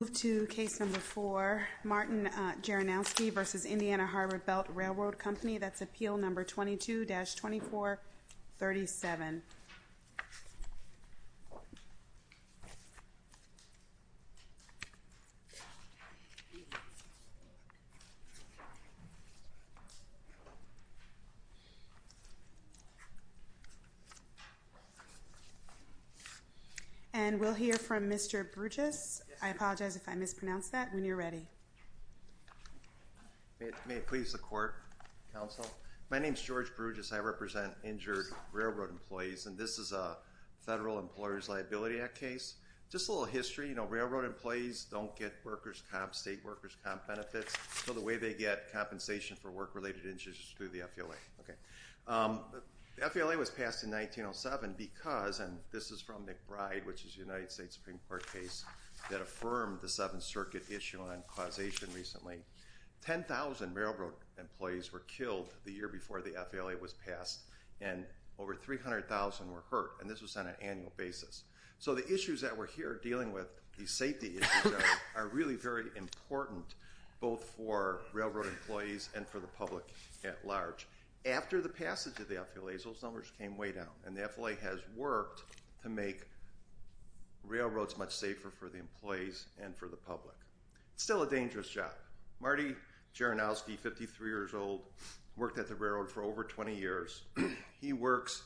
We'll move to case number four, Martin Jaranowski v. Indiana Harbor Belt Railroad Company. That's appeal number 22-2437. And we'll hear from Mr. Bruges. I apologize if I mispronounced that. When you're ready. May it please the court, counsel. My name is George Bruges. I represent injured railroad employees, and this is a Federal Employers Liability Act case. Just a little history. You know, railroad employees don't get workers' comp, state workers' comp benefits. So the way they get compensation for work-related injuries is through the FLA. The FLA was passed in 1907 because, and this is from McBride, which is a United States Supreme Court case that affirmed the Seventh Circuit issue on causation recently. 10,000 railroad employees were killed the year before the FLA was passed, and over 300,000 were hurt, and this was on an annual basis. So the issues that we're here dealing with, these safety issues, are really very important both for railroad employees and for the public at large. After the passage of the FLA, those numbers came way down, and the FLA has worked to make railroads much safer for the employees and for the public. It's still a dangerous job. Marty Geronowski, 53 years old, worked at the railroad for over 20 years. He works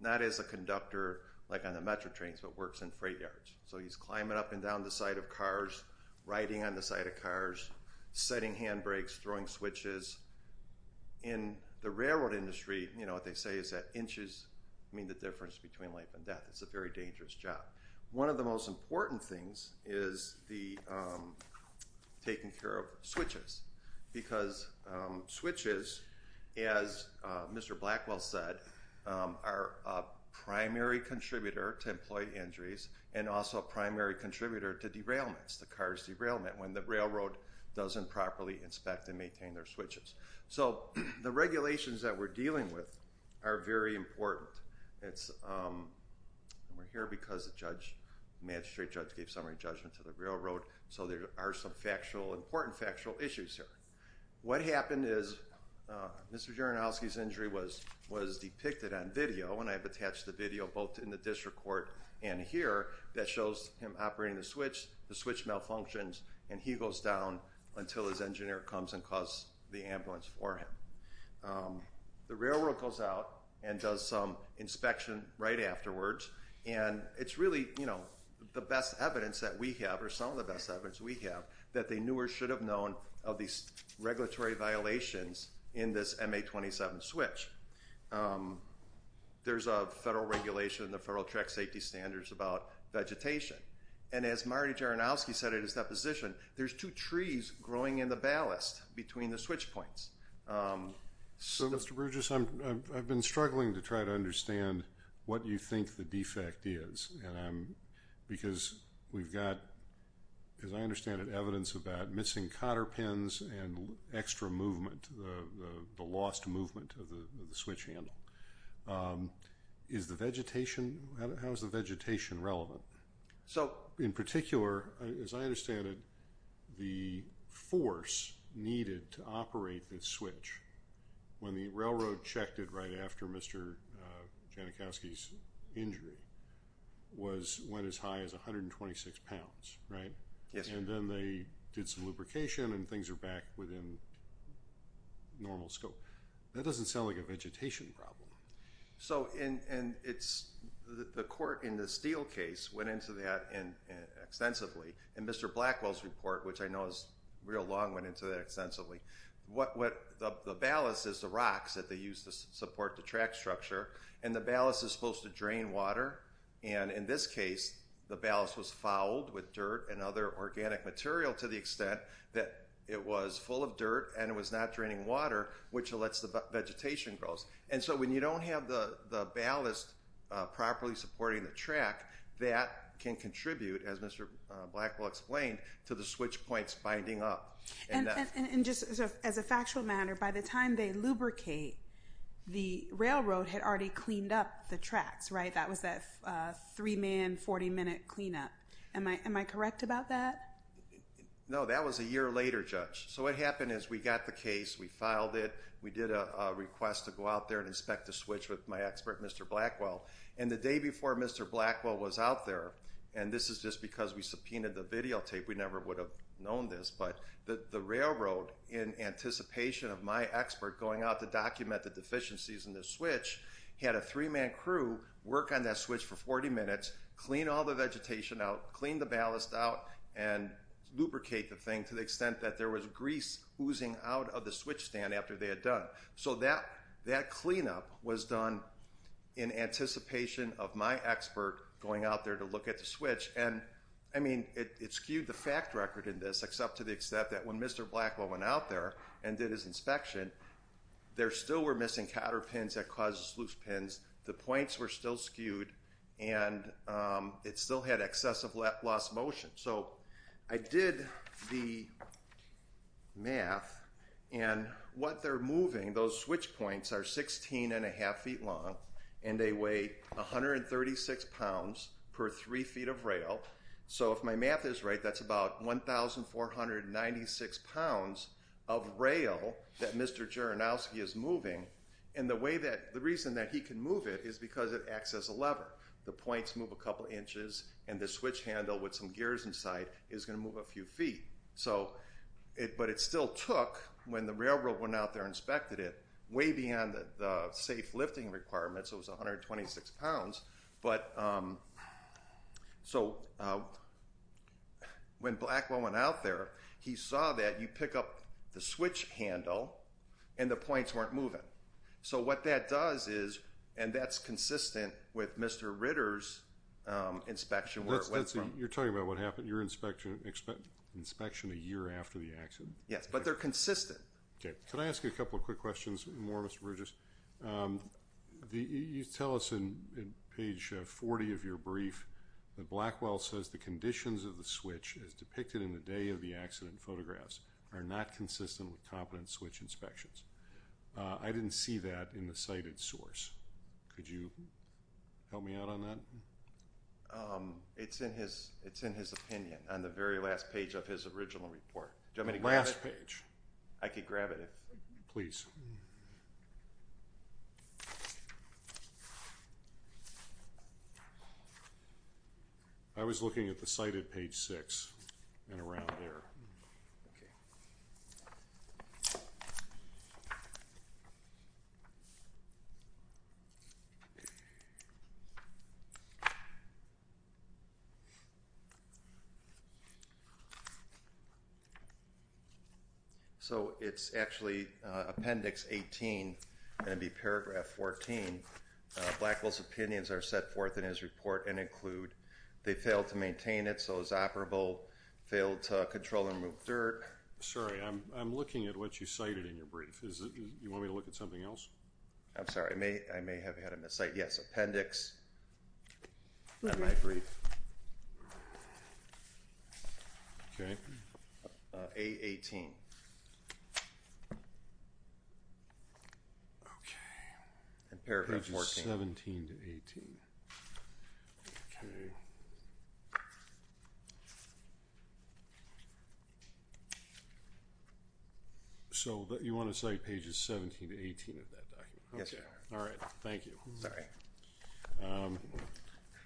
not as a conductor, like on the metro trains, but works in freight yards. So he's climbing up and down the side of cars, riding on the side of cars, setting handbrakes, throwing switches. In the railroad industry, you know, what they say is that inches mean the difference between life and death. It's a very dangerous job. One of the most important things is the taking care of switches because switches, as Mr. Blackwell said, are a primary contributor to employee injuries and also a primary contributor to derailments, the car's derailment, when the railroad doesn't properly inspect and maintain their switches. So the regulations that we're dealing with are very important. We're here because the magistrate judge gave summary judgment to the railroad, so there are some important factual issues here. What happened is Mr. Geronowski's injury was depicted on video, and I've attached the video both in the district court and here, that shows him operating the switch. The switch malfunctions, and he goes down until his engineer comes and calls the ambulance for him. The railroad goes out and does some inspection right afterwards, and it's really, you know, the best evidence that we have, or some of the best evidence we have, that they knew or should have known of these regulatory violations in this MA-27 switch. There's a federal regulation in the Federal Track Safety Standards about vegetation, and as Marty Geronowski said in his deposition, there's two trees growing in the ballast between the switch points. So, Mr. Burgess, I've been struggling to try to understand what you think the defect is, because we've got, as I understand it, evidence about missing cotter pins and extra movement, the lost movement of the switch handle. Is the vegetation, how is the vegetation relevant? In particular, as I understand it, the force needed to operate this switch, when the railroad checked it right after Mr. Janikowski's injury, went as high as 126 pounds, right? Yes. And then they did some lubrication, and things are back within normal scope. That doesn't sound like a vegetation problem. So, the court in the Steele case went into that extensively, and Mr. Blackwell's report, which I know is real long, went into that extensively. The ballast is the rocks that they use to support the track structure, and the ballast is supposed to drain water, and in this case, the ballast was fouled with dirt and other organic material to the extent that it was full of dirt and it was not draining water, which lets the vegetation grow. And so when you don't have the ballast properly supporting the track, that can contribute, as Mr. Blackwell explained, to the switch points binding up. And just as a factual matter, by the time they lubricate, the railroad had already cleaned up the tracks, right? That was that three-man, 40-minute cleanup. Am I correct about that? So, what happened is we got the case, we filed it, we did a request to go out there and inspect the switch with my expert, Mr. Blackwell. And the day before Mr. Blackwell was out there, and this is just because we subpoenaed the videotape, we never would have known this, but the railroad, in anticipation of my expert going out to document the deficiencies in the switch, had a three-man crew work on that switch for 40 minutes, clean all the vegetation out, clean the ballast out, and lubricate the thing to the extent that there was grease oozing out of the switch stand after they had done. So that cleanup was done in anticipation of my expert going out there to look at the switch. And, I mean, it skewed the fact record in this, except to the extent that when Mr. Blackwell went out there and did his inspection, there still were missing cotter pins that caused the sluice pins, the points were still skewed, and it still had excessive lost motion. So I did the math, and what they're moving, those switch points, are 16 1⁄2 feet long, and they weigh 136 pounds per 3 feet of rail. So if my math is right, that's about 1,496 pounds of rail that Mr. Jaranowski is moving, and the reason that he can move it is because it acts as a lever. The points move a couple inches, and the switch handle with some gears inside is going to move a few feet. But it still took, when the railroad went out there and inspected it, way beyond the safe lifting requirements, it was 126 pounds. So when Blackwell went out there, he saw that you pick up the switch handle, and the points weren't moving. So what that does is, and that's consistent with Mr. Ritter's inspection where it went from. You're talking about what happened, your inspection a year after the accident? Yes, but they're consistent. Okay, can I ask you a couple of quick questions, more Mr. Burgess? You tell us in page 40 of your brief that Blackwell says the conditions of the switch as depicted in the day of the accident photographs are not consistent with competent switch inspections. I didn't see that in the cited source. Could you help me out on that? It's in his opinion on the very last page of his original report. Do you want me to grab it? The last page. I could grab it if. Please. I was looking at the cited page six and around there. Okay. Okay. So it's actually appendix 18, and it'd be paragraph 14. Blackwell's opinions are set forth in his report and include they failed to maintain it, so it was operable, failed to control and remove dirt. Sorry, I'm looking at what you cited in your brief. You want me to look at something else? I'm sorry. I may have had a mis-cite. Yes, appendix in my brief. Okay. A18. Okay. And paragraph 14. Pages 17 to 18. Okay. So you want to cite pages 17 to 18 of that document? Yes, sir. All right. Thank you. Sorry.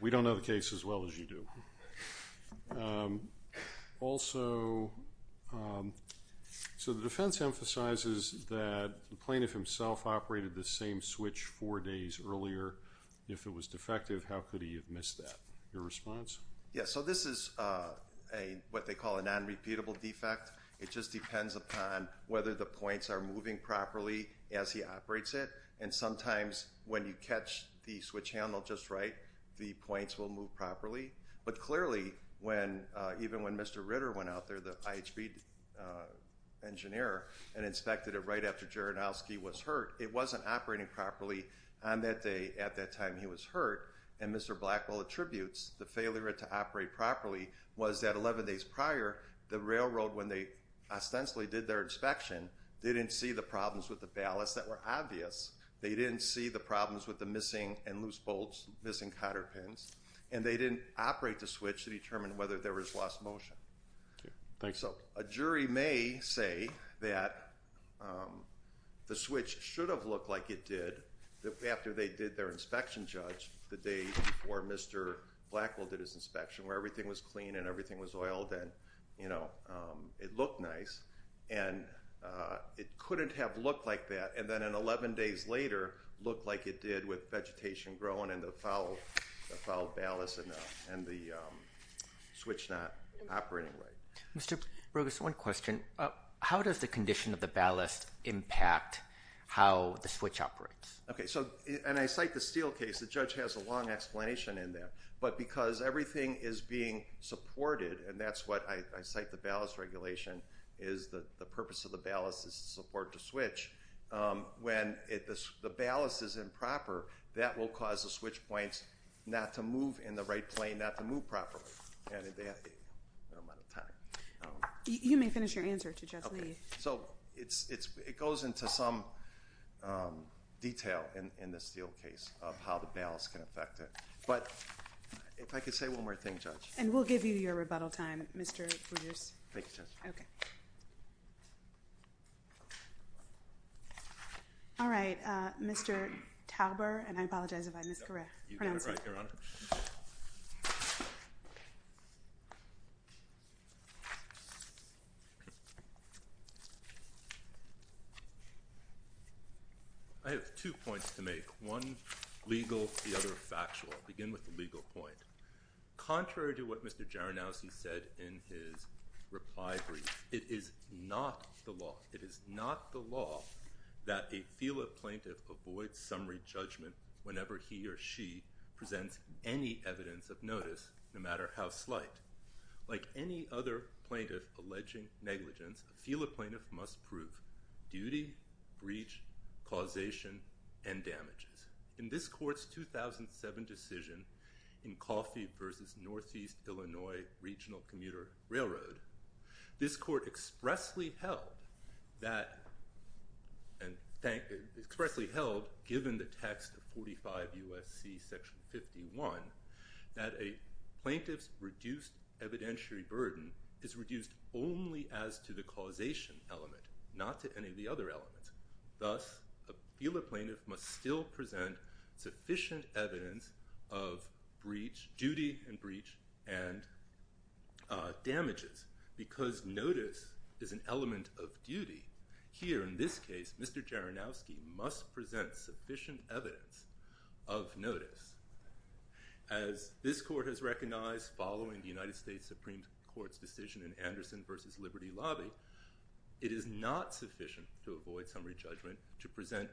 We don't know the case as well as you do. Also, so the defense emphasizes that the plaintiff himself operated the same switch four days earlier. If it was defective, how could he have missed that? Your response? Yes, so this is what they call a non-repeatable defect. It just depends upon whether the points are moving properly as he operates it, and sometimes when you catch the switch handle just right, the points will move properly. But clearly, even when Mr. Ritter went out there, the IHB engineer, and inspected it right after Geronowski was hurt, it wasn't operating properly on that day at that time he was hurt, and Mr. Blackwell attributes the failure to operate properly was that 11 days prior, the railroad, when they ostensibly did their inspection, didn't see the problems with the ballast that were obvious. They didn't see the problems with the missing and loose bolts, missing cotter pins, and they didn't operate the switch to determine whether there was lost motion. Okay. Thanks. So a jury may say that the switch should have looked like it did after they did their inspection, Judge, the day before Mr. Blackwell did his inspection, where everything was clean and everything was oiled and, you know, it looked nice. And it couldn't have looked like that, and then 11 days later, looked like it did with vegetation growing and the foul ballast and the switch not operating right. Mr. Brogues, one question. How does the condition of the ballast impact how the switch operates? Okay. So, and I cite the Steele case. The judge has a long explanation in that. But because everything is being supported, and that's what I cite the ballast regulation, is the purpose of the ballast is to support the switch. When the ballast is improper, that will cause the switch points not to move in the right plane, not to move properly. And they have a limited amount of time. You may finish your answer to Judge Lee. Okay. So it goes into some detail in the Steele case of how the ballast can affect it. But if I could say one more thing, Judge. And we'll give you your rebuttal time, Mr. Brogues. Thank you, Judge. Okay. All right. Mr. Talbert, and I apologize if I mispronounce it. You got it right, Your Honor. I have two points to make, one legal, the other factual. I'll begin with the legal point. Contrary to what Mr. Jaranowski said in his reply brief, it is not the law. It is not the law that a FELA plaintiff avoids summary judgment whenever he or she presents any evidence of notice, no matter how slight. Like any other plaintiff alleging negligence, a FELA plaintiff must prove duty, breach, causation, and damages. In this court's 2007 decision in Coffey v. Northeast Illinois Regional Commuter Railroad, this court expressly held that, and expressly held given the text of 45 U.S.C. Section 51, that a plaintiff's reduced evidentiary burden is reduced only as to the causation element, not to any of the other elements. Thus, a FELA plaintiff must still present sufficient evidence of duty and breach and damages. Because notice is an element of duty, here in this case, Mr. Jaranowski must present sufficient evidence of notice. As this court has recognized following the United States Supreme Court's decision in Anderson v. Liberty Lobby, it is not sufficient to avoid summary judgment to present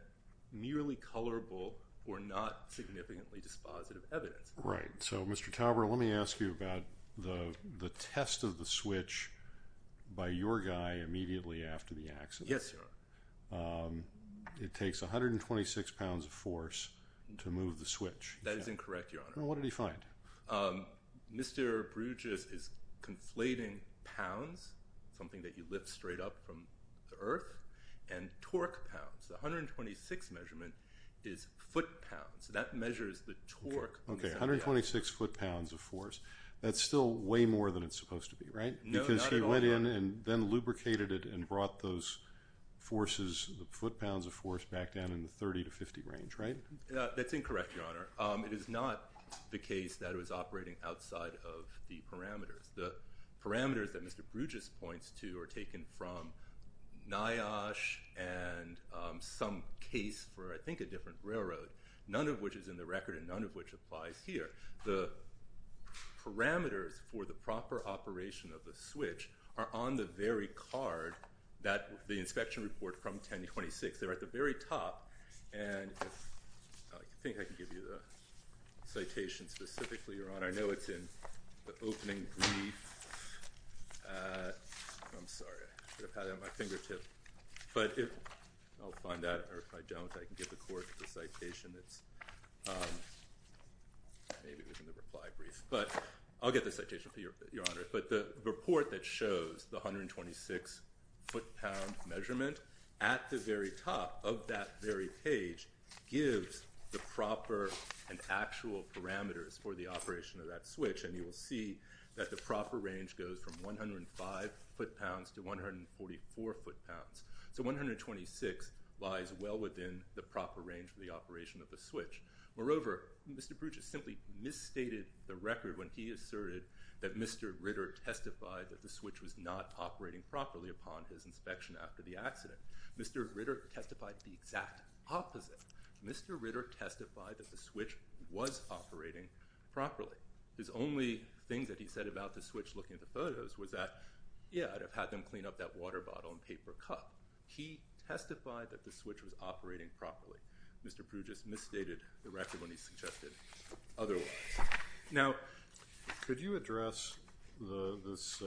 merely colorable or not significantly dispositive evidence. Right. So, Mr. Tauber, let me ask you about the test of the switch by your guy immediately after the accident. Yes, Your Honor. It takes 126 pounds of force to move the switch. That is incorrect, Your Honor. Well, what did he find? Mr. Bruges is conflating pounds, something that you lift straight up from the earth, and torque pounds. The 126 measurement is foot pounds. That measures the torque. Okay, 126 foot pounds of force. That's still way more than it's supposed to be, right? No, not at all, Your Honor. Because he went in and then lubricated it and brought those forces, the foot pounds of force, back down in the 30 to 50 range, right? That's incorrect, Your Honor. It is not the case that it was operating outside of the parameters. The parameters that Mr. Bruges points to are taken from NIOSH and some case for, I think, a different railroad, none of which is in the record and none of which applies here. The parameters for the proper operation of the switch are on the very card, the inspection report from 1026. They're at the very top. And I think I can give you the citation specifically, Your Honor. I know it's in the opening brief. I'm sorry. I should have had it at my fingertip. But I'll find that, or if I don't, I can get the court the citation that's maybe within the reply brief. But I'll get the citation for you, Your Honor. But the report that shows the 126 foot pound measurement at the very top of that very page gives the proper and actual parameters for the operation of that switch. And you will see that the proper range goes from 105 foot pounds to 144 foot pounds. So 126 lies well within the proper range for the operation of the switch. Moreover, Mr. Bruges simply misstated the record when he asserted that Mr. Ritter testified that the switch was not operating properly upon his inspection after the accident. Mr. Ritter testified the exact opposite. Mr. Ritter testified that the switch was operating properly. His only thing that he said about the switch looking at the photos was that, yeah, I'd have had them clean up that water bottle and paper cup. He testified that the switch was operating properly. Mr. Bruges misstated the record when he suggested otherwise. Now, could you address this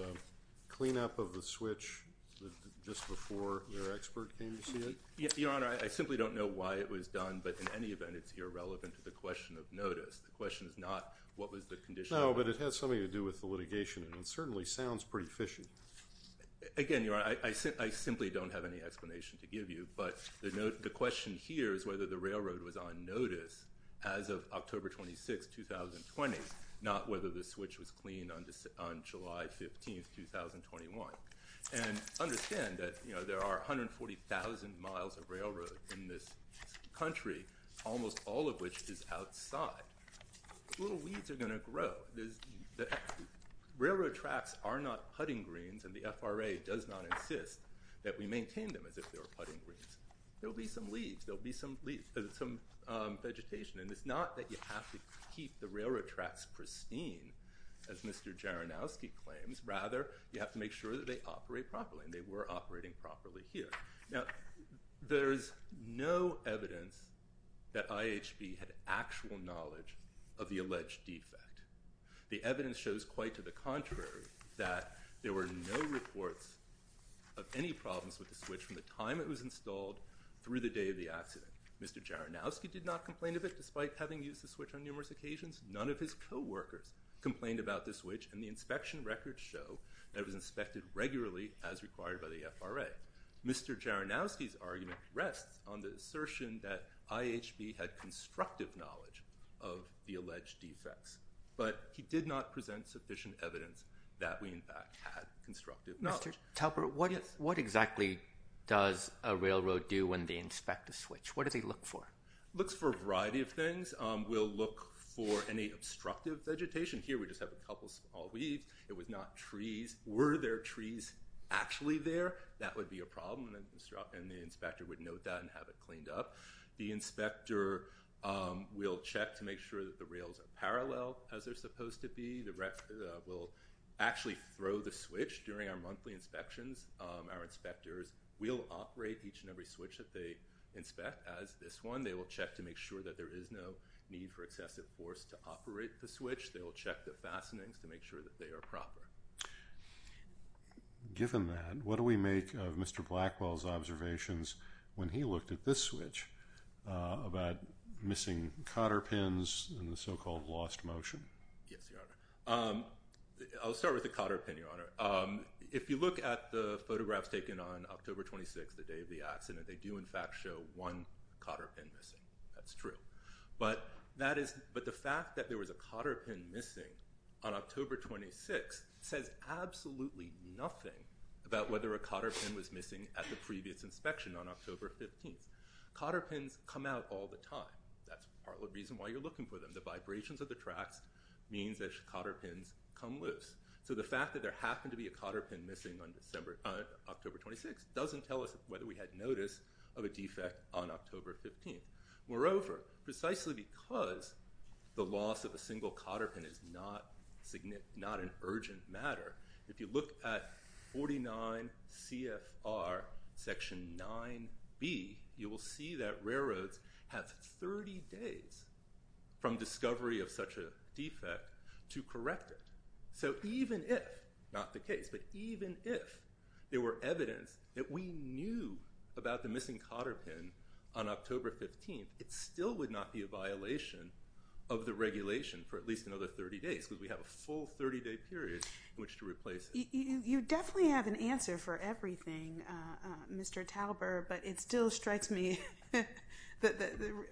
cleanup of the switch just before their expert came to see it? Your Honor, I simply don't know why it was done. But in any event, it's irrelevant to the question of notice. The question is not what was the condition. No, but it has something to do with the litigation. And it certainly sounds pretty fishy. Again, Your Honor, I simply don't have any explanation to give you. But the question here is whether the railroad was on notice as of October 26, 2020, not whether the switch was cleaned on July 15, 2021. And understand that, you know, there are 140,000 miles of railroad in this country, almost all of which is outside. Little weeds are going to grow. Railroad tracks are not putting greens. And the FRA does not insist that we maintain them as if they were putting greens. There will be some leaves. There will be some vegetation. And it's not that you have to keep the railroad tracks pristine, as Mr. Jaranowski claims. Rather, you have to make sure that they operate properly. And they were operating properly here. Now, there is no evidence that IHB had actual knowledge of the alleged defect. The evidence shows quite to the contrary that there were no reports of any problems with the switch from the time it was installed through the day of the accident. Mr. Jaranowski did not complain of it, despite having used the switch on numerous occasions. None of his coworkers complained about the switch. And the inspection records show that it was inspected regularly as required by the FRA. Mr. Jaranowski's argument rests on the assertion that IHB had constructive knowledge of the alleged defects. But he did not present sufficient evidence that we, in fact, had constructive knowledge. Mr. Talbert, what exactly does a railroad do when they inspect a switch? What do they look for? It looks for a variety of things. We'll look for any obstructive vegetation. Here, we just have a couple of small weeds. It was not trees. Were there trees actually there? That would be a problem, and the inspector would note that and have it cleaned up. The inspector will check to make sure that the rails are parallel, as they're supposed to be. The rep will actually throw the switch during our monthly inspections. Our inspectors will operate each and every switch that they inspect, as this one. They will check to make sure that there is no need for excessive force to operate the switch. They will check the fastenings to make sure that they are proper. Given that, what do we make of Mr. Blackwell's observations when he looked at this switch about missing cotter pins and the so-called lost motion? Yes, Your Honor. I'll start with the cotter pin, Your Honor. If you look at the photographs taken on October 26, the day of the accident, they do, in fact, show one cotter pin missing. That's true. But the fact that there was a cotter pin missing on October 26 says absolutely nothing about whether a cotter pin was missing at the previous inspection on October 15. Cotter pins come out all the time. That's part of the reason why you're looking for them. The vibrations of the tracks means that cotter pins come loose. So the fact that there happened to be a cotter pin missing on October 26 doesn't tell us whether we had notice of a defect on October 15. Moreover, precisely because the loss of a single cotter pin is not an urgent matter, if you look at 49 CFR Section 9B, you will see that railroads have 30 days from discovery of such a defect to correct it. So even if, not the case, but even if there were evidence that we knew about the missing cotter pin on October 15, it still would not be a violation of the regulation for at least another 30 days because we have a full 30-day period in which to replace it. You definitely have an answer for everything, Mr. Talbert, but it still strikes me that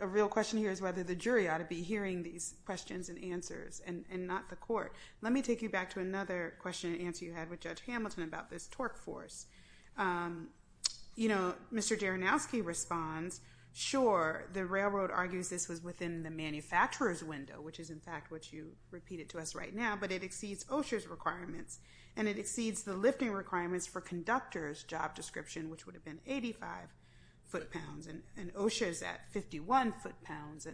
a real question here is whether the jury ought to be hearing these questions and answers and not the court. Let me take you back to another question and answer you had with Judge Hamilton about this torque force. You know, Mr. Jaranowski responds, sure, the railroad argues this was within the manufacturer's window, which is in fact what you repeated to us right now, but it exceeds OSHA's requirements and it exceeds the lifting requirements for conductor's job description, which would have been 85 foot-pounds, and OSHA is at 51 foot-pounds.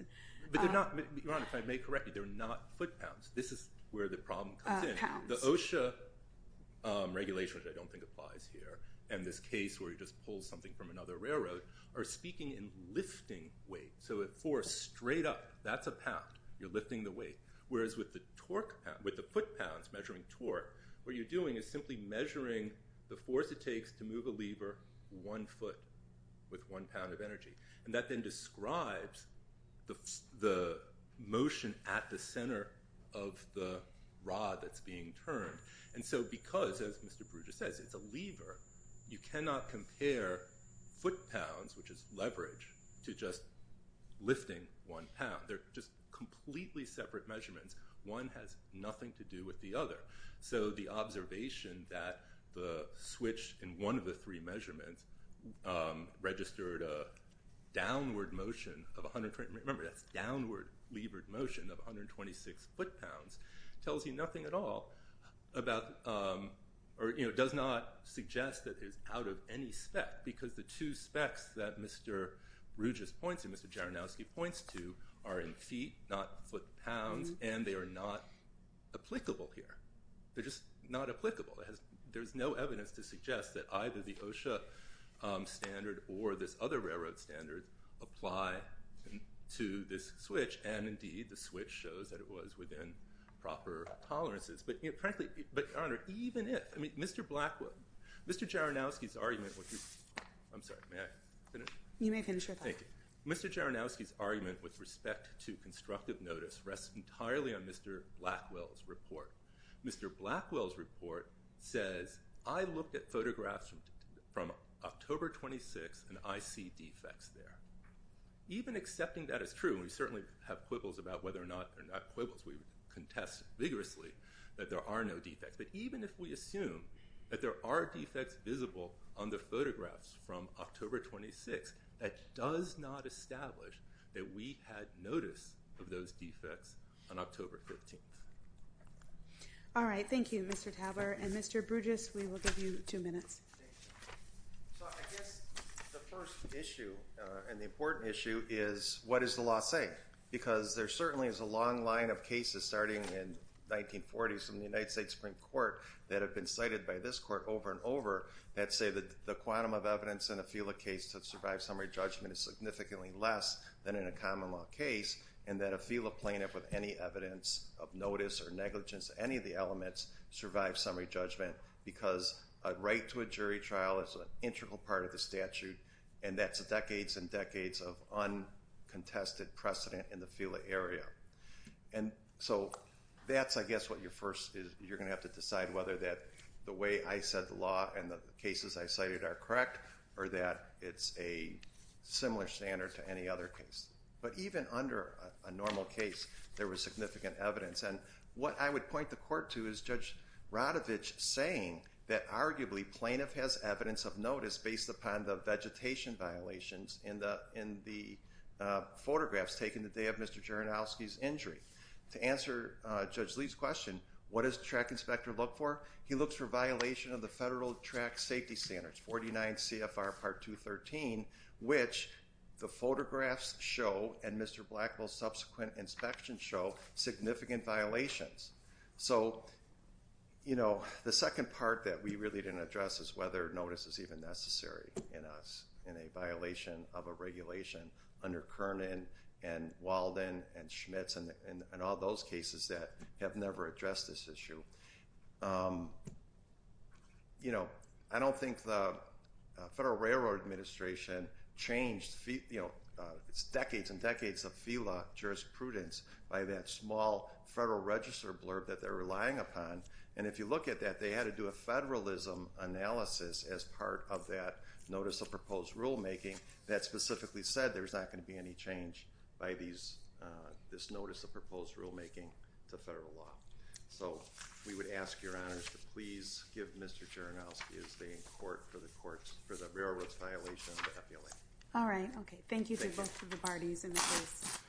But they're not, if I may correct you, they're not foot-pounds. This is where the problem comes in. Pounds. The OSHA regulation, which I don't think applies here, and this case where you just pull something from another railroad, are speaking in lifting weight, so a force straight up. That's a pound. You're lifting the weight, whereas with the foot-pounds measuring torque, what you're doing is simply measuring the force it takes to move a lever one foot with one pound of energy, and that then describes the motion at the center of the rod that's being turned. And so because, as Mr. Perugia says, it's a lever, you cannot compare foot-pounds, which is leverage, to just lifting one pound. They're just completely separate measurements. One has nothing to do with the other. So the observation that the switch in one of the three measurements registered a downward motion of 120. Remember, that's downward levered motion of 126 foot-pounds, tells you nothing at all about, or does not suggest that it's out of any spec because the two specs that Mr. Perugia points to, Mr. Jaranowski points to, are in feet, not foot-pounds, and they are not applicable here. They're just not applicable. There's no evidence to suggest that either the OSHA standard or this other railroad standard apply to this switch, and indeed the switch shows that it was within proper tolerances. But frankly, Your Honor, even if, I mean, Mr. Blackwell, Mr. Jaranowski's argument with respect to constructive notice rests entirely on Mr. Blackwell's report. Mr. Blackwell's report says, I looked at photographs from October 26th, and I see defects there. Even accepting that is true, and we certainly have quibbles about whether or not they're not quibbles. We contest vigorously that there are no defects. But even if we assume that there are defects visible on the photographs from October 26th, that does not establish that we had notice of those defects on October 15th. All right. Thank you, Mr. Taber. And Mr. Bruges, we will give you two minutes. So I guess the first issue and the important issue is, what does the law say? Because there certainly is a long line of cases starting in the 1940s from the United States Supreme Court that have been cited by this court over and over that say that the quantum of evidence in a FELA case that survives summary judgment is significantly less than in a common law case, and that a FELA plaintiff with any evidence of notice or negligence of any of the elements survives summary judgment, because a right to a jury trial is an integral part of the statute, and that's decades and decades of uncontested precedent in the FELA area. And so that's, I guess, what you're going to have to decide, whether the way I said the law and the cases I cited are correct or that it's a similar standard to any other case. But even under a normal case, there was significant evidence. And what I would point the court to is Judge Radovich saying that arguably plaintiff has evidence of notice based upon the vegetation violations in the photographs taken the day of Mr. Geronowski's injury. To answer Judge Lee's question, what does the track inspector look for? He looks for violation of the Federal Track Safety Standards, 49 CFR Part 213, which the photographs show and Mr. Blackwell's subsequent inspections show significant violations. So, you know, the second part that we really didn't address is whether notice is even necessary in a violation of a regulation under Kernan and Walden and Schmitz and all those cases that have never addressed this issue. You know, I don't think the Federal Railroad Administration changed, you know, decades and decades of FELA jurisprudence by that small Federal Register blurb that they're relying upon. And if you look at that, they had to do a federalism analysis as part of that notice of proposed rulemaking that specifically said there's not going to be any change by this notice of proposed rulemaking to federal law. So we would ask your honors to please give Mr. Geronowski his day in court for the railroad's violation of the FELA. All right. Okay. Thank you to both of the parties in the case.